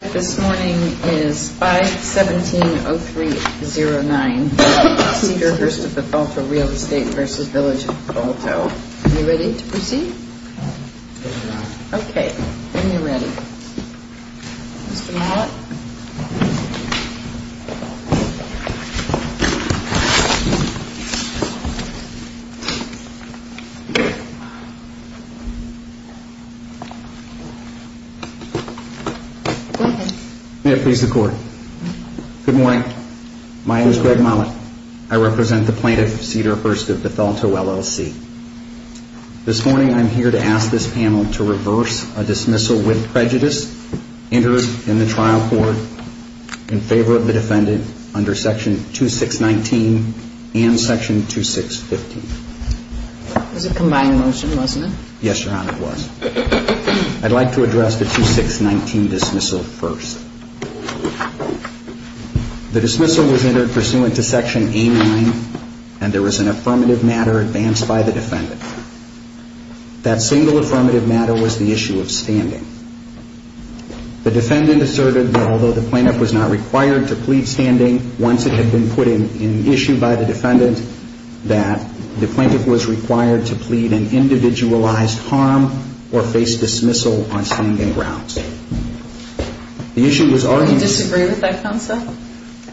This morning is 5-170-309 Cedarhurst of Bethalto Real Estate v. Village of Bethalto Are you ready to proceed? Yes ma'am Okay, when you're ready Mr. Mollett Good morning. My name is Greg Mollett. I represent the plaintiff Cedarhurst of Bethalto LLC. This morning I'm here to ask this panel to reverse a dismissal with prejudice entered in the trial court in favor of the defendant under section 2619 and section 2615. It was a combined motion, wasn't it? Yes, Your Honor, it was. I'd like to address the 2619 dismissal first. The dismissal was entered pursuant to section A-9 and there was an affirmative matter advanced by the defendant. That single affirmative matter was the issue of standing. The defendant asserted that although the plaintiff was not required to plead standing, once it had been put in issue by the defendant, that the plaintiff was required to plead an individualized harm or face dismissal on standing grounds. Do you disagree with that concept?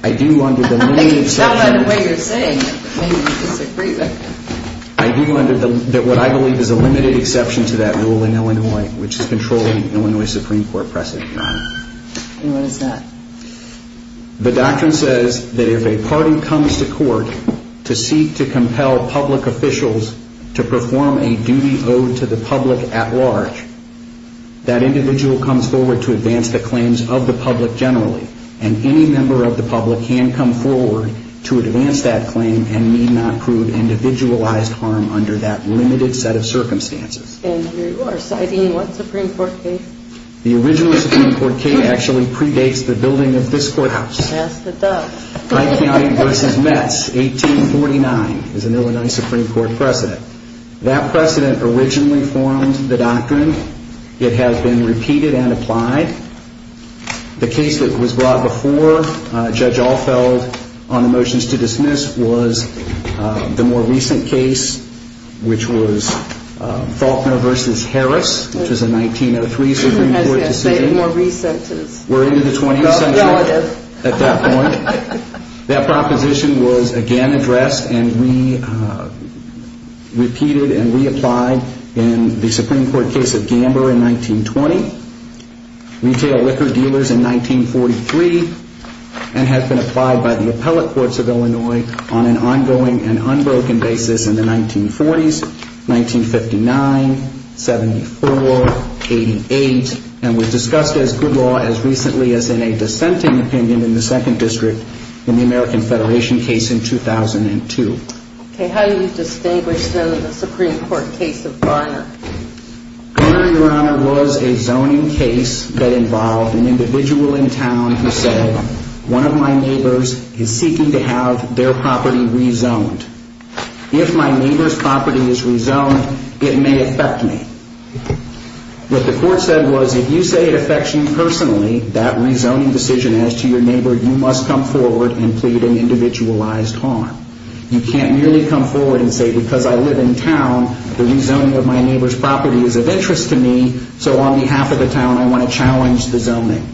I do under the limited exception Tell by the way you're saying it, maybe you disagree with it. I do under what I believe is a limited exception to that rule in Illinois, which is controlling the Illinois Supreme Court precedent, Your Honor. And what is that? The doctrine says that if a party comes to court to seek to compel public officials to perform a duty owed to the public at large, that individual comes forward to advance the claims of the public generally. And any member of the public can come forward to advance that claim and need not prove individualized harm under that limited set of circumstances. And you are citing what Supreme Court case? The original Supreme Court case actually predates the building of this courthouse. That's the duck. Wright County v. Metz, 1849 is an Illinois Supreme Court precedent. That precedent originally formed the doctrine. It has been repeated and applied. The case that was brought before Judge Alfeld on the motions to dismiss was the more recent case, which was Faulkner v. Harris, which was a 1903 Supreme Court decision. More recent is relative. We're into the 20th century at that point. That proposition was again addressed and re-repeated and reapplied in the Supreme Court case of Gamber in 1920. Retail liquor dealers in 1943. And has been applied by the appellate courts of Illinois on an ongoing and unbroken basis in the 1940s, 1959, 74, 88. And was discussed as good law as recently as in a dissenting opinion in the second district in the American Federation case in 2002. Okay. How do you distinguish the Supreme Court case of Gamber? Gamber, Your Honor, was a zoning case that involved an individual in town who said, one of my neighbors is seeking to have their property rezoned. If my neighbor's property is rezoned, it may affect me. What the court said was, if you say it affects you personally, that rezoning decision as to your neighbor, you must come forward and plead an individualized harm. You can't merely come forward and say, because I live in town, the rezoning of my neighbor's property is of interest to me, so on behalf of the town, I want to challenge the zoning.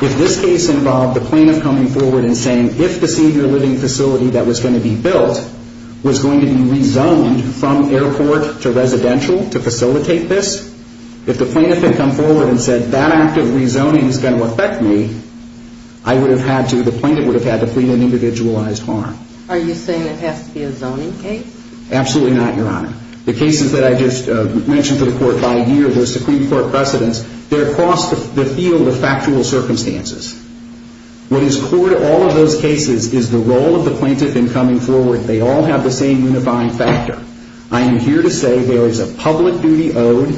If this case involved the plaintiff coming forward and saying, if the senior living facility that was going to be built was going to be rezoned from airport to residential to facilitate this, if the plaintiff had come forward and said, that act of rezoning is going to affect me, I would have had to, the plaintiff would have had to plead an individualized harm. Are you saying it has to be a zoning case? Absolutely not, Your Honor. The cases that I just mentioned to the court by ear, the Supreme Court precedents, they're across the field of factual circumstances. What is core to all of those cases is the role of the plaintiff in coming forward. They all have the same unifying factor. I am here to say there is a public duty owed,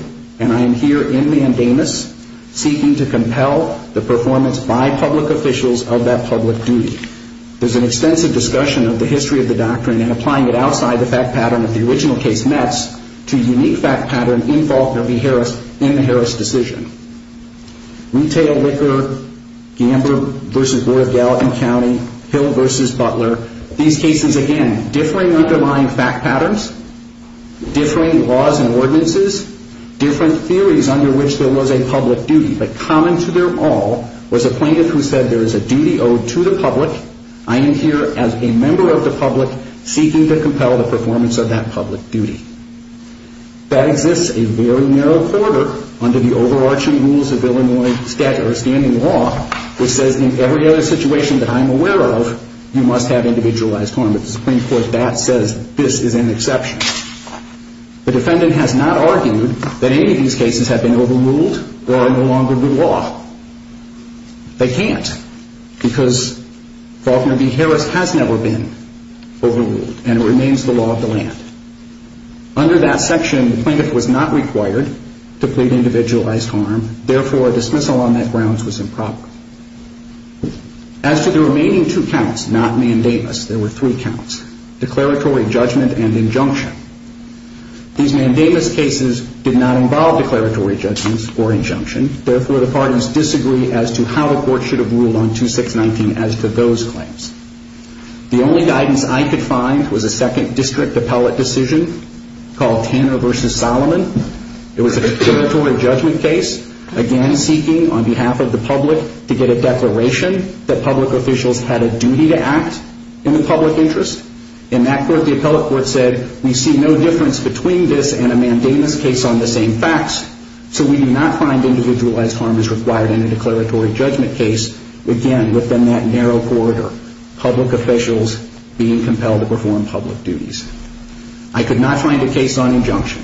and I am here in Mandamus seeking to compel the performance by public officials of that public duty. There's an extensive discussion of the history of the doctrine and applying it outside the fact pattern of the original case, Metz, to a unique fact pattern involved in the Harris decision. Retail Liquor, Gambler v. Board of Gallatin County, Hill v. Butler, these cases, again, differing underlying fact patterns, differing laws and ordinances, different theories under which there was a public duty, but common to them all was a plaintiff who said there is a duty owed to the public. I am here as a member of the public seeking to compel the performance of that public duty. That exists a very narrow quarter under the overarching rules of Illinois standing law, which says in every other situation that I'm aware of, you must have individualized harm. At the Supreme Court, that says this is an exception. The defendant has not argued that any of these cases have been overruled or are no longer the law. They can't because Faulkner v. Harris has never been overruled, and it remains the law of the land. Under that section, the plaintiff was not required to plead individualized harm. Therefore, a dismissal on that grounds was improper. As to the remaining two counts, not mandamus, there were three counts, declaratory judgment and injunction. These mandamus cases did not involve declaratory judgments or injunction. Therefore, the parties disagree as to how the court should have ruled on 2619 as to those claims. The only guidance I could find was a second district appellate decision called Tanner v. Solomon. It was a declaratory judgment case, again, seeking on behalf of the public to get a declaration that public officials had a duty to act in the public interest. In that court, the appellate court said we see no difference between this and a mandamus case on the same facts, so we do not find individualized harm is required in a declaratory judgment case, again, within that narrow corridor, public officials being compelled to perform public duties. I could not find a case on injunction.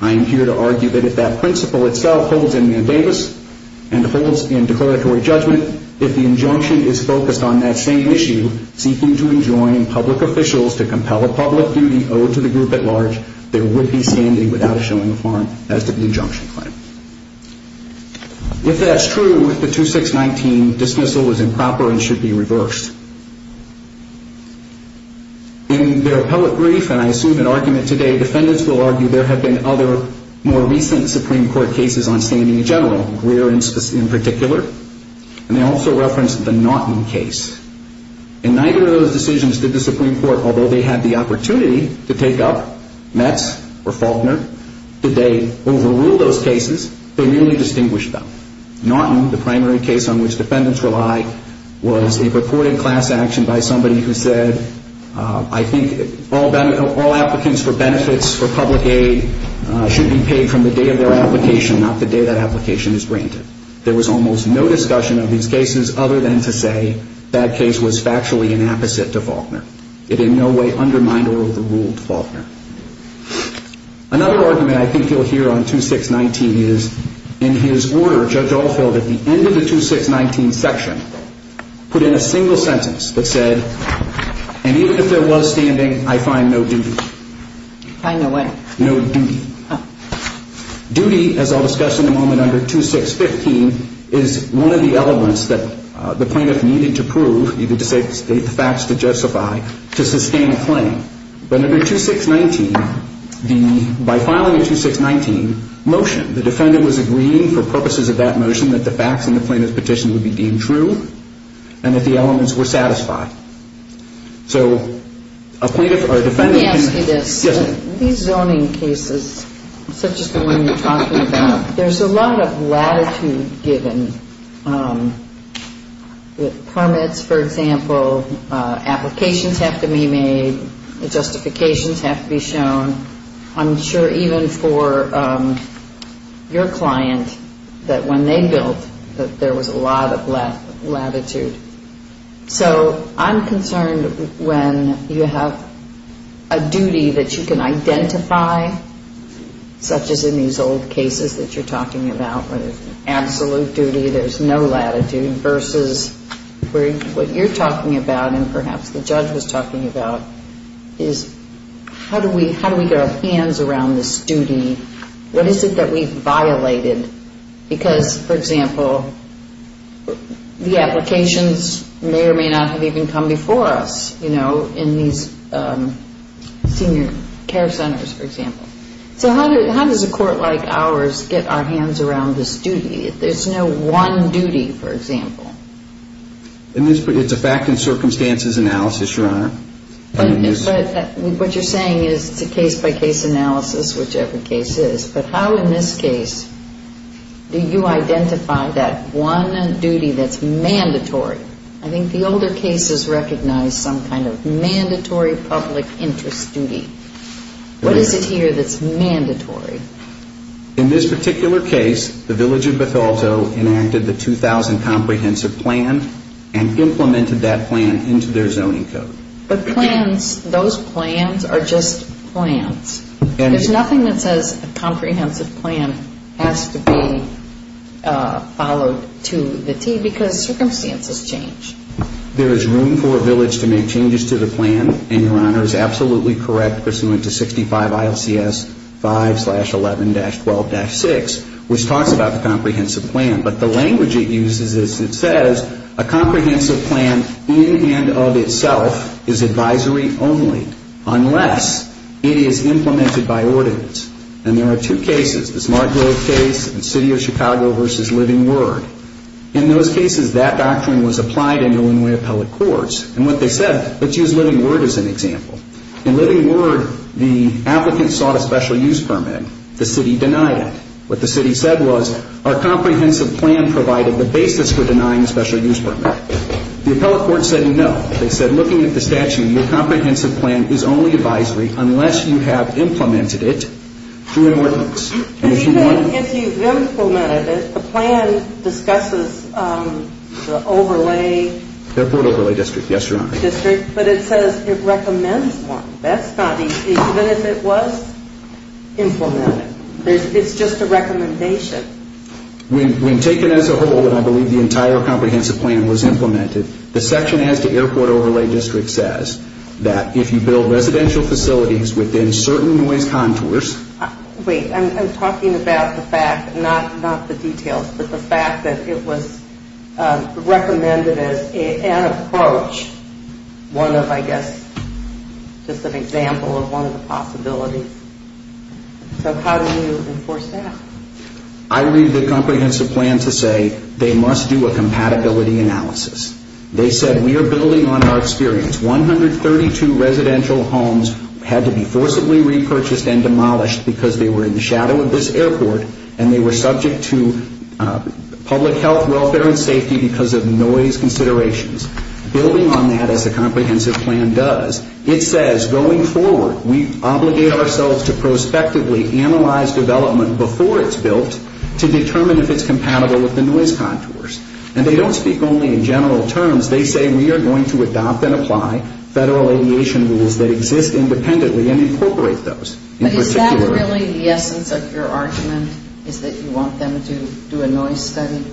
I am here to argue that if that principle itself holds in mandamus and holds in declaratory judgment, if the injunction is focused on that same issue, seeking to enjoin public officials to compel a public duty owed to the group at large, there would be standing without showing a harm as to the injunction claim. If that's true, with the 2619, dismissal was improper and should be reversed. In their appellate brief, and I assume in argument today, defendants will argue there have been other more recent Supreme Court cases on standing in general, Greer in particular, and they also referenced the Naughton case. In neither of those decisions did the Supreme Court, although they had the opportunity to take up Metz or Faulkner, did they overrule those cases? They merely distinguished them. Naughton, the primary case on which defendants rely, was a reported class action by somebody who said, I think all applicants for benefits for public aid should be paid from the day of their application, not the day that application is granted. There was almost no discussion of these cases other than to say that case was factually an apposite to Faulkner. It in no way undermined or overruled Faulkner. Another argument I think you'll hear on 2619 is, in his order, Judge Alfield, at the end of the 2619 section, put in a single sentence that said, and even if there was standing, I find no duty. Find no what? No duty. Duty, as I'll discuss in a moment under 2615, is one of the elements that the plaintiff needed to prove, needed to state the facts to justify, to sustain a claim. But under 2619, by filing a 2619 motion, the defendant was agreeing, for purposes of that motion, that the facts in the plaintiff's petition would be deemed true and that the elements were satisfied. So a plaintiff or defendant can- Let me ask you this. Yes, ma'am. These zoning cases, such as the one you're talking about, there's a lot of latitude given. Permits, for example, applications have to be made, justifications have to be shown. I'm sure even for your client, that when they built, that there was a lot of latitude. So I'm concerned when you have a duty that you can identify, such as in these old cases that you're talking about, where there's absolute duty, there's no latitude, versus what you're talking about and perhaps the judge was talking about, is how do we get our hands around this duty? What is it that we've violated? Because, for example, the applications may or may not have even come before us, you know, in these senior care centers, for example. So how does a court like ours get our hands around this duty? There's no one duty, for example. It's a fact and circumstances analysis, Your Honor. But what you're saying is it's a case-by-case analysis, whichever case it is. But how in this case do you identify that one duty that's mandatory? I think the older cases recognize some kind of mandatory public interest duty. What is it here that's mandatory? In this particular case, the village of Bethalto enacted the 2000 comprehensive plan and implemented that plan into their zoning code. But plans, those plans are just plans. There's nothing that says a comprehensive plan has to be followed to the T because circumstances change. There is room for a village to make changes to the plan, and Your Honor is absolutely correct, pursuant to 65 ILCS 5-11-12-6, which talks about the comprehensive plan. But the language it uses is it says a comprehensive plan in and of itself is advisory only, unless it is implemented by ordinance. And there are two cases, the Smart Grove case and City of Chicago v. Living Word. In those cases, that doctrine was applied in Illinois appellate courts. And what they said, let's use Living Word as an example. In Living Word, the applicant sought a special use permit. The city denied it. What the city said was our comprehensive plan provided the basis for denying a special use permit. The appellate court said no. They said looking at the statute, your comprehensive plan is only advisory unless you have implemented it through an ordinance. Even if you've implemented it, the plan discusses the overlay. Airport overlay district, yes, Your Honor. District, but it says it recommends one. That's not even if it was implemented. It's just a recommendation. When taken as a whole, and I believe the entire comprehensive plan was implemented, the section as to airport overlay district says that if you build residential facilities within certain noise contours. Wait, I'm talking about the fact, not the details, but the fact that it was recommended as an approach, one of, I guess, just an example of one of the possibilities. So how do you enforce that? I read the comprehensive plan to say they must do a compatibility analysis. They said we are building on our experience. 132 residential homes had to be forcibly repurchased and demolished because they were in the shadow of this airport and they were subject to public health, welfare, and safety because of noise considerations. Building on that, as the comprehensive plan does, it says going forward, we obligate ourselves to prospectively analyze development before it's built to determine if it's compatible with the noise contours. And they don't speak only in general terms. They say we are going to adopt and apply federal aviation rules that exist independently and incorporate those in particular. But is that really the essence of your argument, is that you want them to do a noise study?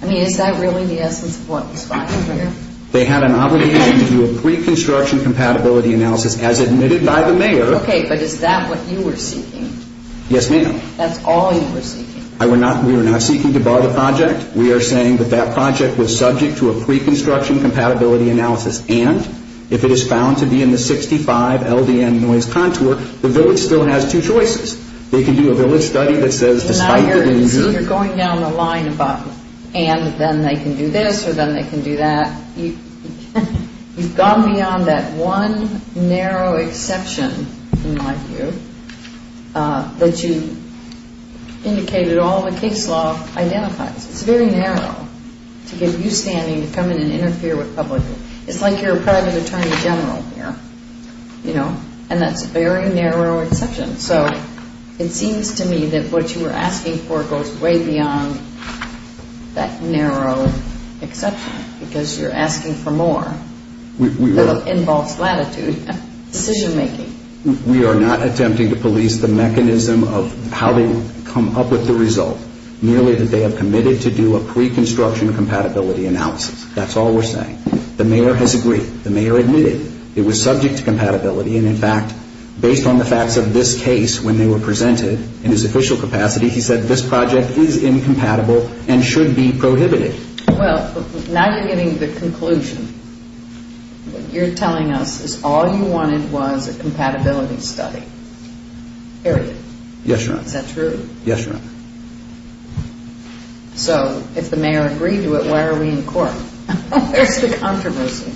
I mean, is that really the essence of what was found here? They had an obligation to do a pre-construction compatibility analysis as admitted by the mayor. Okay, but is that what you were seeking? Yes, ma'am. That's all you were seeking? We were not seeking to bar the project. We are saying that that project was subject to a pre-construction compatibility analysis. And if it is found to be in the 65 LDN noise contour, the village still has two choices. They can do a village study that says despite the injury. So you're going down the line about and then they can do this or then they can do that. You've gone beyond that one narrow exception, in my view, that you indicated all the case law identifies. It's very narrow to get you standing to come in and interfere with public. It's like you're a private attorney general here, you know, and that's a very narrow exception. So it seems to me that what you were asking for goes way beyond that narrow exception because you're asking for more. It involves latitude and decision making. We are not attempting to police the mechanism of how they come up with the result. Merely that they have committed to do a pre-construction compatibility analysis. That's all we're saying. The mayor has agreed. The mayor admitted it was subject to compatibility. And, in fact, based on the facts of this case when they were presented in his official capacity, he said this project is incompatible and should be prohibited. Well, now you're getting the conclusion. What you're telling us is all you wanted was a compatibility study. Period. Yes, Your Honor. Is that true? Yes, Your Honor. So if the mayor agreed to it, why are we in court? Where's the controversy?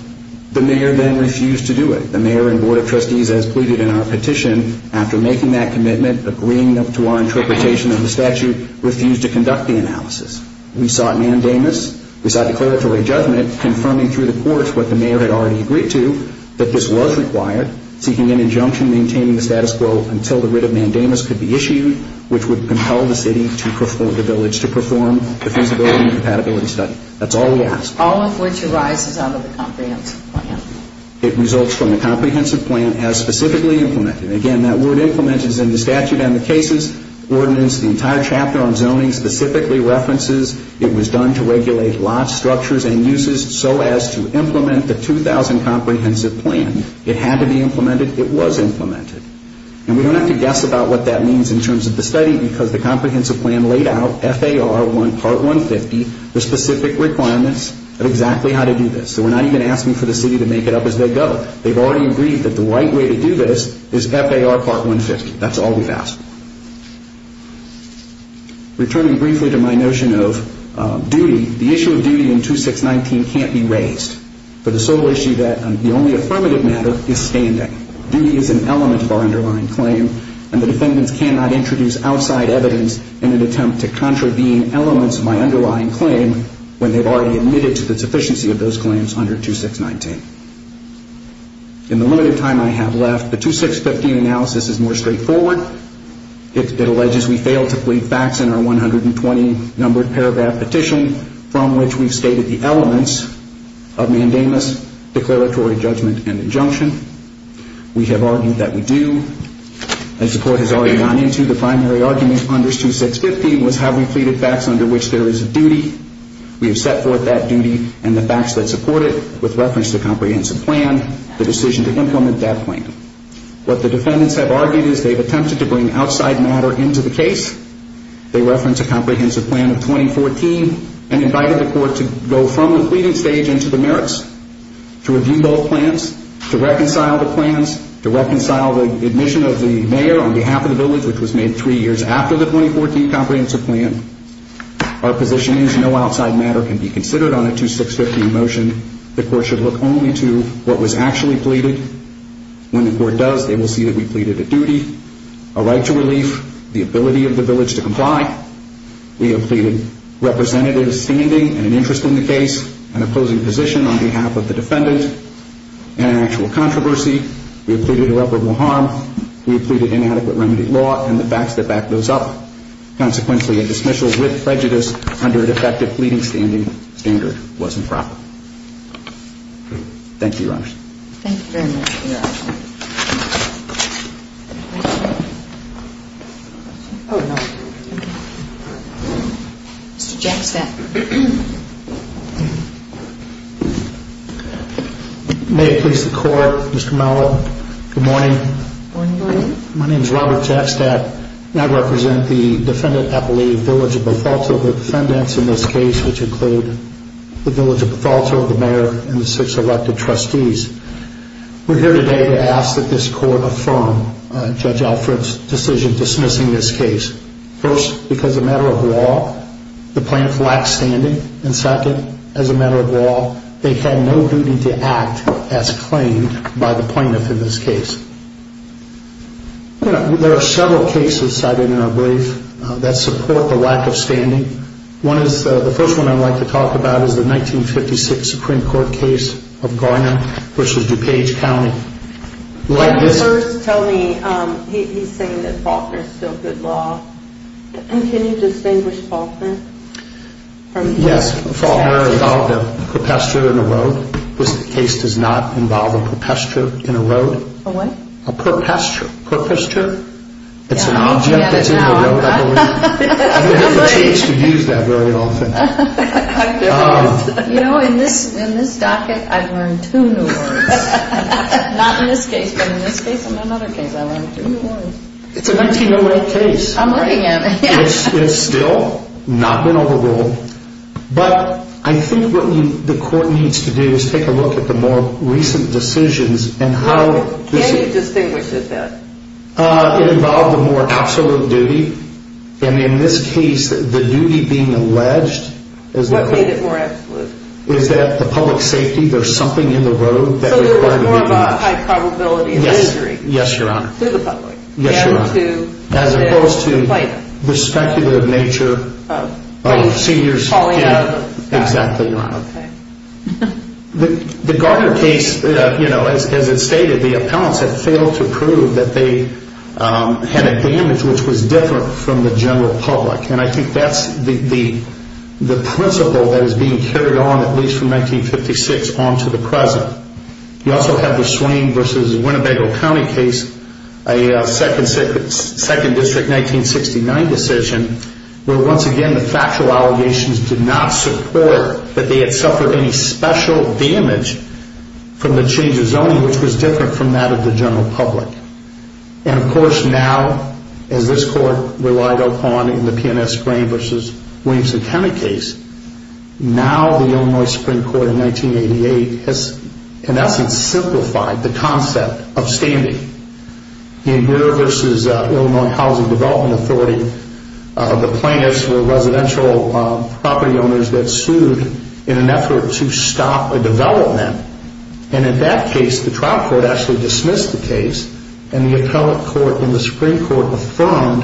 The mayor then refused to do it. The mayor and board of trustees, as pleaded in our petition, after making that commitment, agreeing to our interpretation of the statute, refused to conduct the analysis. We sought mandamus. We sought declaratory judgment confirming through the courts what the mayor had already agreed to, that this was required, seeking an injunction maintaining the status quo until the writ of mandamus could be issued, which would compel the city to perform, the village, to perform the feasibility and compatibility study. That's all we asked. All of which arises out of the comprehensive plan. It results from the comprehensive plan as specifically implemented. Again, that word implemented is in the statute and the case's ordinance. The entire chapter on zoning specifically references it was done to regulate lots, structures, and uses so as to implement the 2000 comprehensive plan. It had to be implemented. It was implemented. And we don't have to guess about what that means in terms of the study because the comprehensive plan laid out FAR part 150, the specific requirements of exactly how to do this. So we're not even asking for the city to make it up as they go. They've already agreed that the right way to do this is FAR part 150. That's all we've asked. Returning briefly to my notion of duty, the issue of duty in 2619 can't be raised. For the sole issue that the only affirmative matter is standing. Duty is an element of our underlying claim, and the defendants cannot introduce outside evidence in an attempt to contravene elements of my underlying claim when they've already admitted to the sufficiency of those claims under 2619. In the limited time I have left, the 2615 analysis is more straightforward. It alleges we failed to plead facts in our 120-numbered paragraph petition from which we've stated the elements of mandamus, declaratory judgment, and injunction. We have argued that we do. As the Court has already gone into, the primary argument under 2615 was have we pleaded facts under which there is a duty. We have set forth that duty and the facts that support it with reference to comprehensive plan, the decision to implement that plan. What the defendants have argued is they've attempted to bring outside matter into the case. They reference a comprehensive plan of 2014 and invited the Court to go from the pleading stage into the merits, to review both plans, to reconcile the plans, to reconcile the admission of the mayor on behalf of the village, which was made three years after the 2014 comprehensive plan. Our position is no outside matter can be considered on a 2615 motion. The Court should look only to what was actually pleaded. When the Court does, they will see that we pleaded a duty, a right to relief, the ability of the village to comply. We have pleaded representative standing and an interest in the case, an opposing position on behalf of the defendant, and an actual controversy. We have pleaded irreparable harm. We have pleaded inadequate remedy law and the facts that back those up. Consequently, a dismissal with prejudice under a defective pleading standing standard wasn't proper. Thank you, Your Honors. Thank you very much, Your Honor. Mr. Jackstadt. May it please the Court, Mr. Mellow, good morning. Good morning. My name is Robert Jackstadt, and I represent the defendant appellee village of Bethalto, the defendants in this case, which include the village of Bethalto, the mayor, and the six elected trustees. We're here today to ask that this Court affirm Judge Alfred's decision dismissing this case. First, because a matter of law, the plaintiff lacked standing, and second, as a matter of law, they had no duty to act as claimed by the plaintiff in this case. There are several cases cited in our brief that support the lack of standing. The first one I'd like to talk about is the 1956 Supreme Court case of Garner v. DuPage County. First, tell me, he's saying that Faulkner is still good law. Can you distinguish Faulkner? Yes, Faulkner involved a perpetrator in a road. This case does not involve a perpetrator in a road. A what? A perpetrator. It's an object that's in the road, I believe. You don't have a chance to use that very often. You know, in this docket, I've learned two new words. Not in this case, but in this case and in another case, I learned two new words. It's a 1908 case. I'm looking at it. It's still not been overruled, but I think what the Court needs to do is take a look at the more recent decisions and how... Can you distinguish it then? It involved a more absolute duty, and in this case, the duty being alleged... What made it more absolute? Is that the public safety, there's something in the road that required... So there was more of a high probability of injury. Yes, Your Honor. To the public. Yes, Your Honor. As opposed to the speculative nature of seniors falling out of the sky. Exactly, Your Honor. Okay. The Garner case, you know, as it stated, the appellants had failed to prove that they had a damage which was different from the general public. And I think that's the principle that is being carried on, at least from 1956 on to the present. You also have the Swain v. Winnebago County case, a 2nd District 1969 decision, where, once again, the factual allegations did not support that they had suffered any special damage from the change of zoning, which was different from that of the general public. And, of course, now, as this Court relied upon in the P&S Grain v. Williamson County case, now the Illinois Supreme Court in 1988 has, in essence, simplified the concept of standing. In here versus Illinois Housing Development Authority, the plaintiffs were residential property owners that sued in an effort to stop a development. And in that case, the trial court actually dismissed the case. And the appellate court in the Supreme Court affirmed,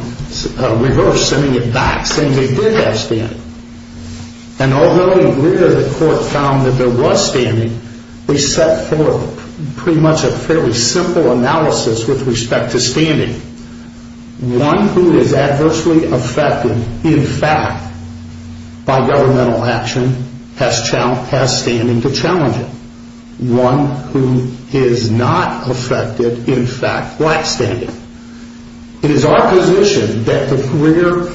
reversed, sending it back, saying they did have standing. And although earlier the court found that there was standing, they set forth pretty much a fairly simple analysis with respect to standing. One who is adversely affected, in fact, by governmental action has standing to challenge it. One who is not affected, in fact, lacks standing. It is our position that the Greer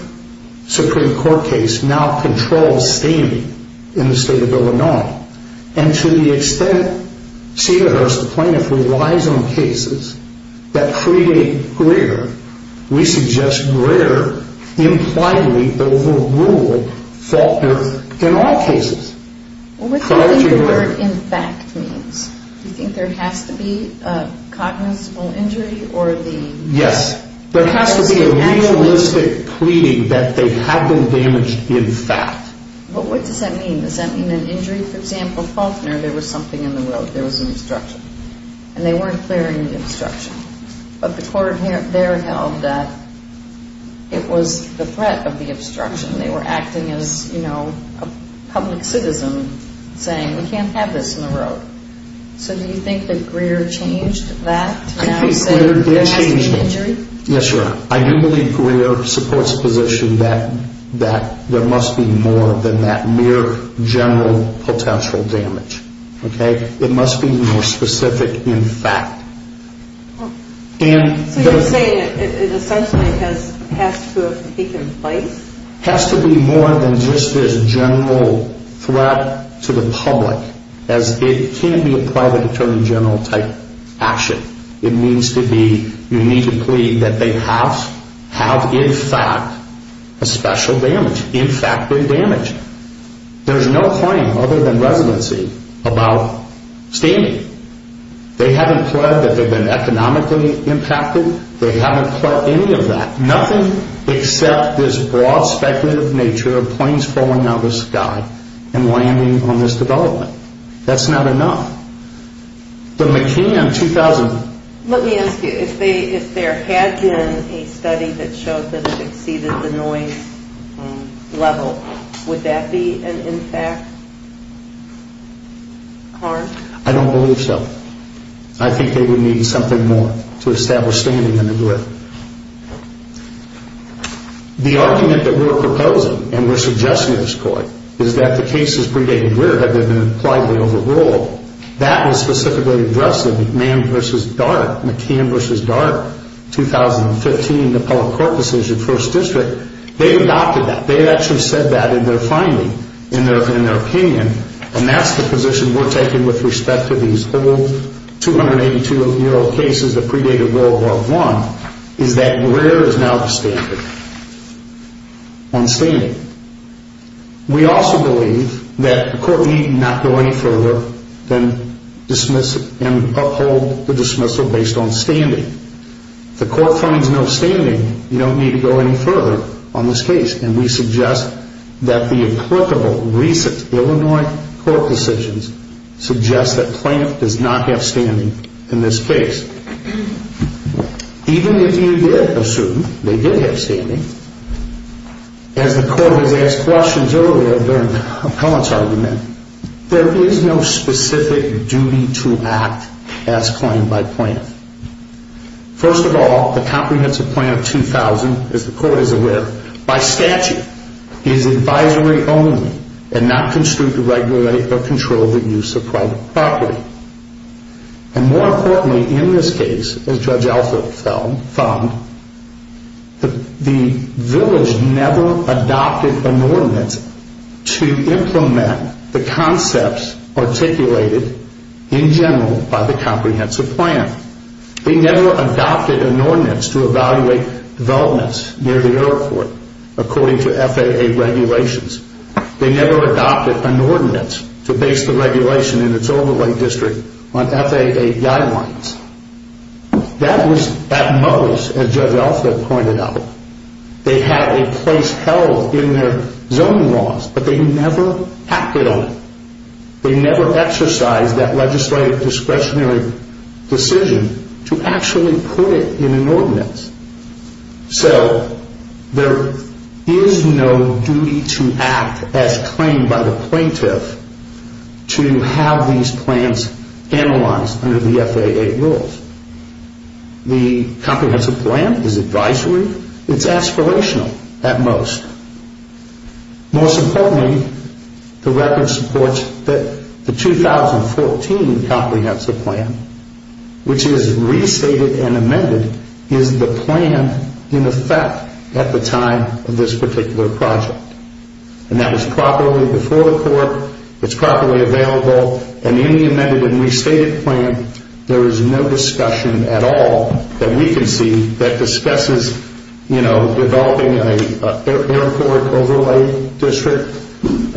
Supreme Court case now controls standing in the state of Illinois. And to the extent Cedarhurst plaintiff relies on cases that predate Greer, we suggest Greer impliedly overruled Faulkner in all cases. What do you think the word, in fact, means? Do you think there has to be a cognizant injury? Yes. There has to be a realistic pleading that they have been damaged in fact. What does that mean? Does that mean an injury? For example, Faulkner, there was something in the road. There was an obstruction. And they weren't clearing the obstruction. But the court there held that it was the threat of the obstruction. They were acting as, you know, a public citizen saying we can't have this in the road. So do you think that Greer changed that to now say there has to be an injury? Yes, Your Honor. I do believe Greer supports the position that there must be more than that mere general potential damage. Okay? It must be more specific in fact. So you're saying it essentially has to have taken place? It has to be more than just this general threat to the public as it can't be a private attorney general type action. It needs to be, you need to plead that they have in fact a special damage. In fact, they're damaged. There's no claim other than residency about standing. They haven't pled that they've been economically impacted. They haven't pled any of that. Nothing except this broad speculative nature of planes falling out of the sky and landing on this development. That's not enough. The McKeon 2000... Let me ask you, if there had been a study that showed that it exceeded the noise level, would that be an impact? Harm? I don't believe so. I think they would need something more to establish standing in the grid. The argument that we're proposing and we're suggesting in this court is that the cases predated Greer had been impliedly overruled. That was specifically addressed in McMahon v. Dart, McKeon v. Dart, 2015, the public court decision, first district. They adopted that. They actually said that in their finding, in their opinion. And that's the position we're taking with respect to these old 282-year-old cases that predated World War I, is that Greer is now the standard on standing. We also believe that the court need not go any further than dismiss and uphold the dismissal based on standing. If the court finds no standing, you don't need to go any further on this case. And we suggest that the applicable recent Illinois court decisions suggest that Plaintiff does not have standing in this case. Even if you did assume they did have standing, as the court has asked questions earlier during Appellant's argument, there is no specific duty to act as claimed by Plaintiff. First of all, the Comprehensive Plan of 2000, as the court is aware, by statute, is advisory only and not construed to regulate or control the use of private property. And more importantly in this case, as Judge Alford found, the village never adopted an ordinance to implement the concepts articulated in general by the Comprehensive Plan. They never adopted an ordinance to evaluate developments near the airport according to FAA regulations. They never adopted an ordinance to base the regulation in its overlay district on FAA guidelines. That was at most, as Judge Alford pointed out, they had a place held in their zoning laws, but they never acted on it. They never exercised that legislative discretionary decision to actually put it in an ordinance. So there is no duty to act as claimed by the Plaintiff to have these plans analyzed under the FAA rules. The Comprehensive Plan is advisory. It's aspirational at most. Most importantly, the record supports that the 2014 Comprehensive Plan, which is restated and amended, is the plan in effect at the time of this particular project. And that was properly before the court, it's properly available, and in the amended and restated plan, there is no discussion at all that we can see that discusses, you know, developing an airport overlay district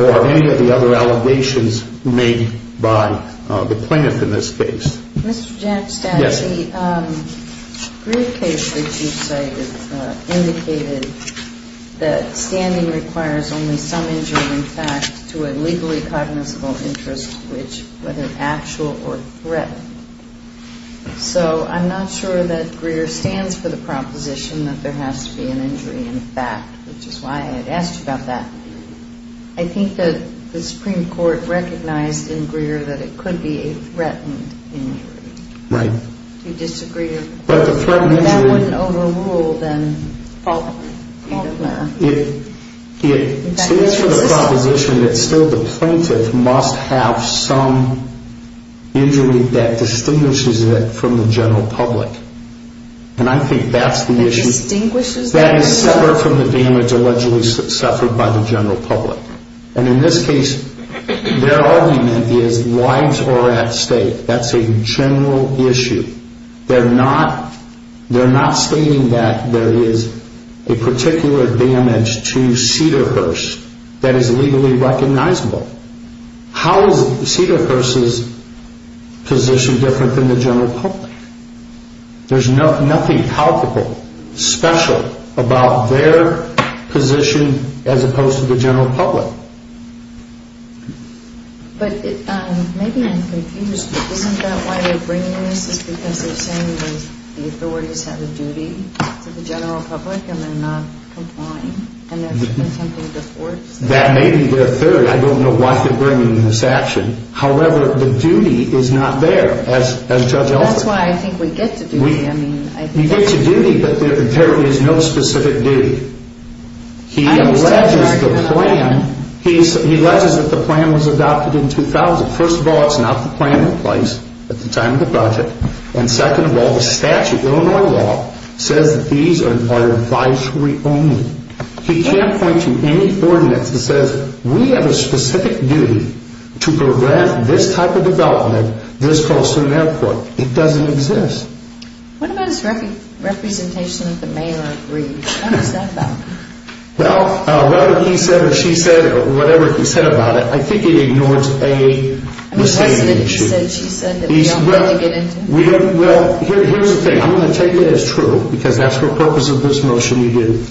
or any of the other allegations made by the Plaintiff in this case. Mr. Jack Stassi, the Greer case that you cited indicated that standing requires only some injury in fact to a legally cognizable interest, whether actual or threat. So I'm not sure that Greer stands for the proposition that there has to be an injury in fact, which is why I had asked you about that. I think that the Supreme Court recognized in Greer that it could be a threatened injury. Right. If you disagree, that wouldn't overrule then Faulkner. It stands for the proposition that still the Plaintiff must have some injury that distinguishes it from the general public. And I think that's the issue. That is separate from the damage allegedly suffered by the general public. And in this case, their argument is lives are at stake. That's a general issue. They're not stating that there is a particular damage to Cedarhurst that is legally recognizable. How is Cedarhurst's position different than the general public? There's nothing palpable, special about their position as opposed to the general public. But maybe I'm confused. Isn't that why they're bringing this? Is it because they're saying that the authorities have a duty to the general public and they're not complying? And there's been something before? That may be their theory. I don't know why they're bringing this action. However, the duty is not there as Judge Elford. That's why I think we get to duty. We get to duty, but there is no specific duty. He alleges that the plan was adopted in 2000. First of all, it's not the plan in place at the time of the budget. And second of all, the statute, Illinois law, says that these are advisory only. He can't point to any ordinance that says we have a specific duty to prevent this type of development, this cost of an airport. It doesn't exist. What about his representation with the mayor of Reed? What was that about? Well, whether he said or she said or whatever he said about it, I think it ignores a misstatement issue. Wasn't it he said, she said that we don't really get into? Well, here's the thing. I'm going to take it as true, because that's the purpose of this motion we did.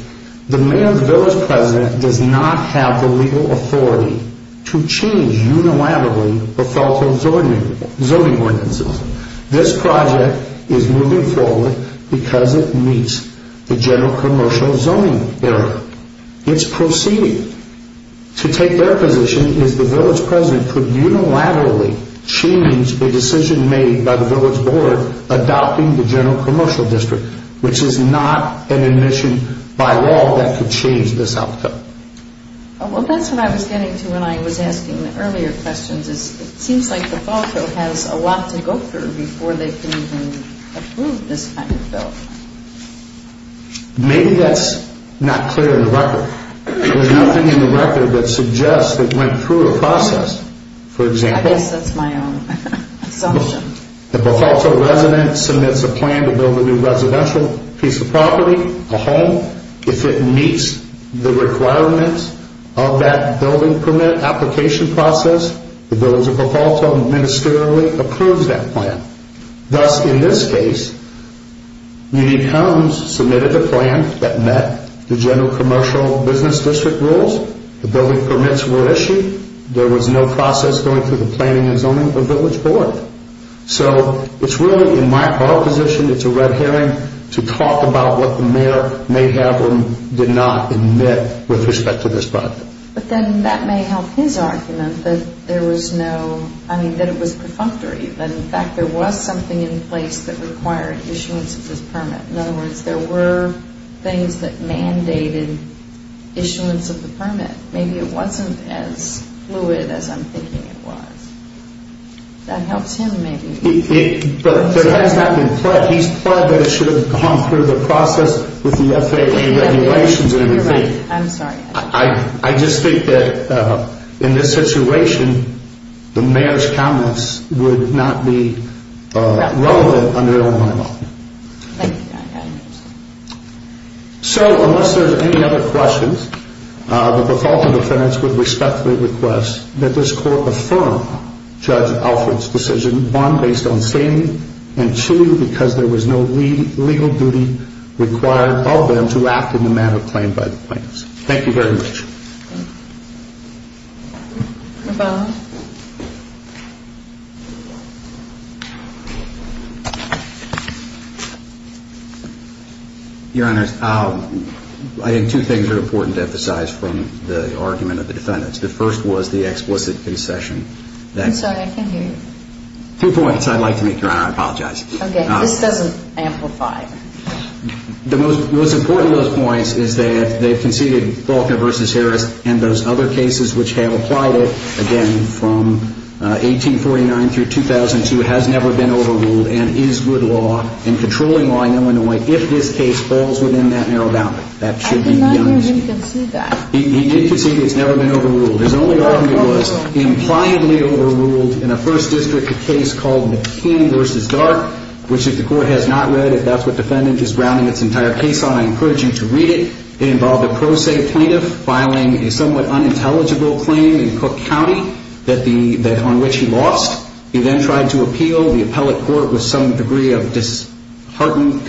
The mayor of the village president does not have the legal authority to change unilaterally the federal zoning ordinances. This project is moving forward because it meets the general commercial zoning area. It's proceeding. To take their position is the village president could unilaterally change a decision made by the village board adopting the general commercial district, which is not an admission by law that could change this outcome. Well, that's what I was getting to when I was asking the earlier questions. It seems like the fall show has a lot to go through before they can even approve this kind of bill. Maybe that's not clear in the record. There's nothing in the record that suggests it went through a process. For example. I guess that's my own assumption. The Behalto resident submits a plan to build a new residential piece of property, a home. If it meets the requirements of that building permit application process, the village of Behalto ministerially approves that plan. Thus, in this case, when he comes, submitted a plan that met the general commercial business district rules, the building permits were issued. There was no process going through the planning and zoning of the village board. So it's really in my position. It's a red herring to talk about what the mayor may have or did not admit with respect to this project. But then that may help his argument that there was no, I mean, that it was perfunctory. In fact, there was something in place that required issuance of this permit. In other words, there were things that mandated issuance of the permit. Maybe it wasn't as fluid as I'm thinking it was. That helps him maybe. But that has not been pledged. He's pledged that it should have gone through the process with the FAA regulations. You're right. I'm sorry. I just think that in this situation, the mayor's comments would not be relevant under Illinois law. Thank you, Your Honor. So unless there's any other questions, the Behalto defendants would respectfully request that this court affirm Judge Alfred's decision, one, based on standing, and two, because there was no legal duty required of them to act in the manner claimed by the plaintiffs. Thank you very much. Thank you. Nobono? Your Honor, I think two things are important to emphasize from the argument of the defendants. The first was the explicit concession. I'm sorry. I can't hear you. Two points I'd like to make, Your Honor. I apologize. Okay. This doesn't amplify. The most important of those points is that they've conceded Faulkner v. Harris, and those other cases which have applied it, again, from 1849 through 2002, has never been overruled and is good law and controlling law in Illinois if this case falls within that narrow boundary. That should be beyond dispute. I did not hear him concede that. He did concede it's never been overruled. His only argument was it was impliedly overruled in a First District case called McKean v. Dark, which if the Court has not read, if that's what the defendant is grounding its entire case on, I encourage you to read it. It involved a pro se plaintiff filing a somewhat unintelligible claim in Cook County on which he lost. He then tried to appeal. The appellate court, with some degree of disheartened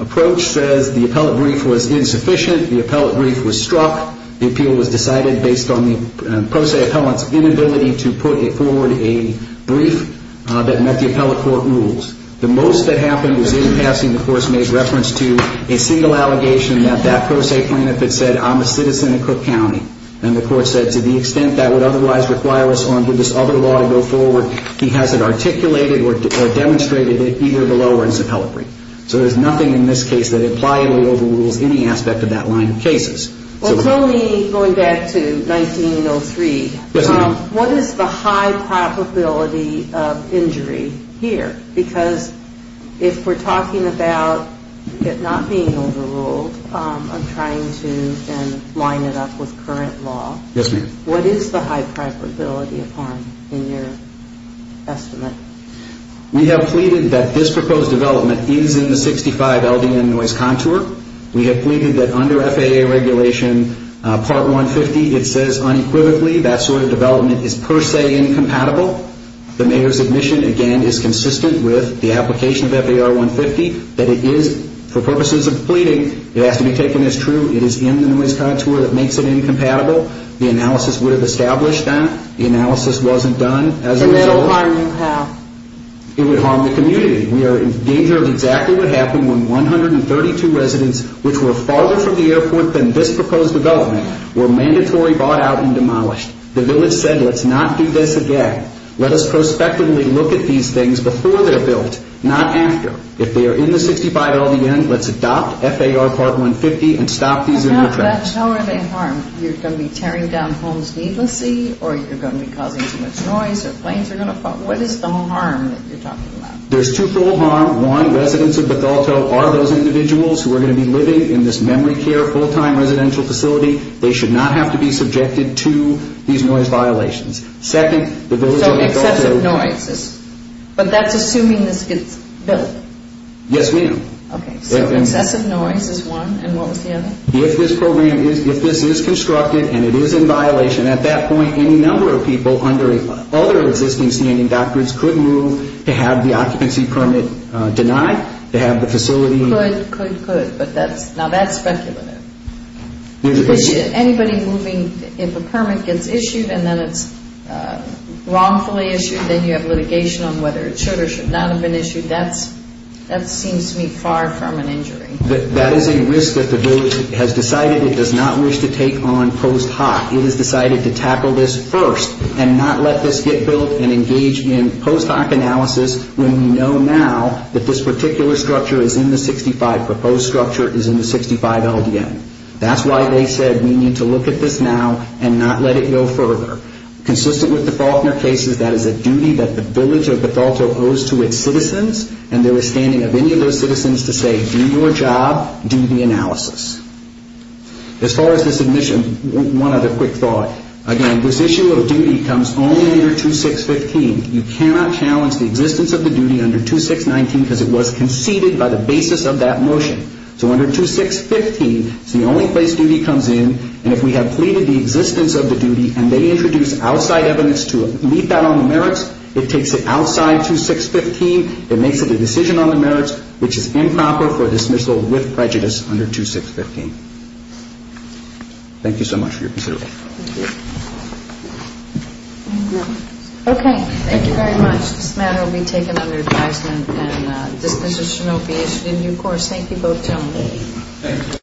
approach, says the appellate brief was insufficient. The appellate brief was struck. The appeal was decided based on the pro se appellant's inability to put forward a brief that met the appellate court rules. The most that happened was in passing the course made reference to a single allegation that that pro se plaintiff had said, I'm a citizen of Cook County. And the court said to the extent that would otherwise require us on to this other law to go forward, he hasn't articulated or demonstrated it either below or in his appellate brief. So there's nothing in this case that impliedly overrules any aspect of that line of cases. Well, tell me, going back to 1903. Yes, ma'am. What is the high probability of injury here? Because if we're talking about it not being overruled, I'm trying to then line it up with current law. Yes, ma'am. What is the high probability of harm in your estimate? We have pleaded that this proposed development is in the 65 LDN noise contour. We have pleaded that under FAA regulation part 150, it says unequivocally that sort of development is per se incompatible. The mayor's admission, again, is consistent with the application of FAR 150 that it is, for purposes of pleading, it has to be taken as true. It is in the noise contour that makes it incompatible. The analysis would have established that. The analysis wasn't done as a result. And it will harm you how? It would harm the community. We are in danger of exactly what happened when 132 residents, which were farther from the airport than this proposed development, were mandatory bought out and demolished. The village said, let's not do this again. Let us prospectively look at these things before they're built, not after. If they are in the 65 LDN, let's adopt FAR part 150 and stop these in their tracks. How are they harmed? You're going to be tearing down homes needlessly, or you're going to be causing too much noise, or planes are going to fall. What is the harm that you're talking about? There's two full harm. One, residents of Bethalto are those individuals who are going to be living in this memory care full-time residential facility. They should not have to be subjected to these noise violations. Second, the village of Bethalto. So excessive noise. But that's assuming this gets built. Yes, ma'am. Okay, so excessive noise is one, and what was the other? If this program is, if this is constructed and it is in violation, at that point, any number of people under other existing standing doctrines could move to have the occupancy permit denied, to have the facility. Could, could, could, but now that's speculative. Anybody moving, if a permit gets issued and then it's wrongfully issued, then you have litigation on whether it should or should not have been issued, that seems to me far from an injury. That is a risk that the village has decided it does not wish to take on post hoc. It has decided to tackle this first and not let this get built and engage in post hoc analysis when we know now that this particular structure is in the 65, proposed structure is in the 65 LDN. That's why they said we need to look at this now and not let it go further. Consistent with the Faulkner cases, that is a duty that the village of Bethalto owes to its citizens and there is standing of any of those citizens to say do your job, do the analysis. As far as this admission, one other quick thought. Again, this issue of duty comes only under 2615. You cannot challenge the existence of the duty under 2619 because it was conceded by the basis of that motion. So under 2615, it's the only place duty comes in and if we have pleaded the existence of the duty and they introduce outside evidence to leave that on the merits, it takes it outside 2615, it makes it a decision on the merits which is improper for dismissal with prejudice under 2615. Thank you so much for your consideration. Okay, thank you very much. This matter will be taken under advisement and disposition will be issued in due course. Thank you both gentlemen.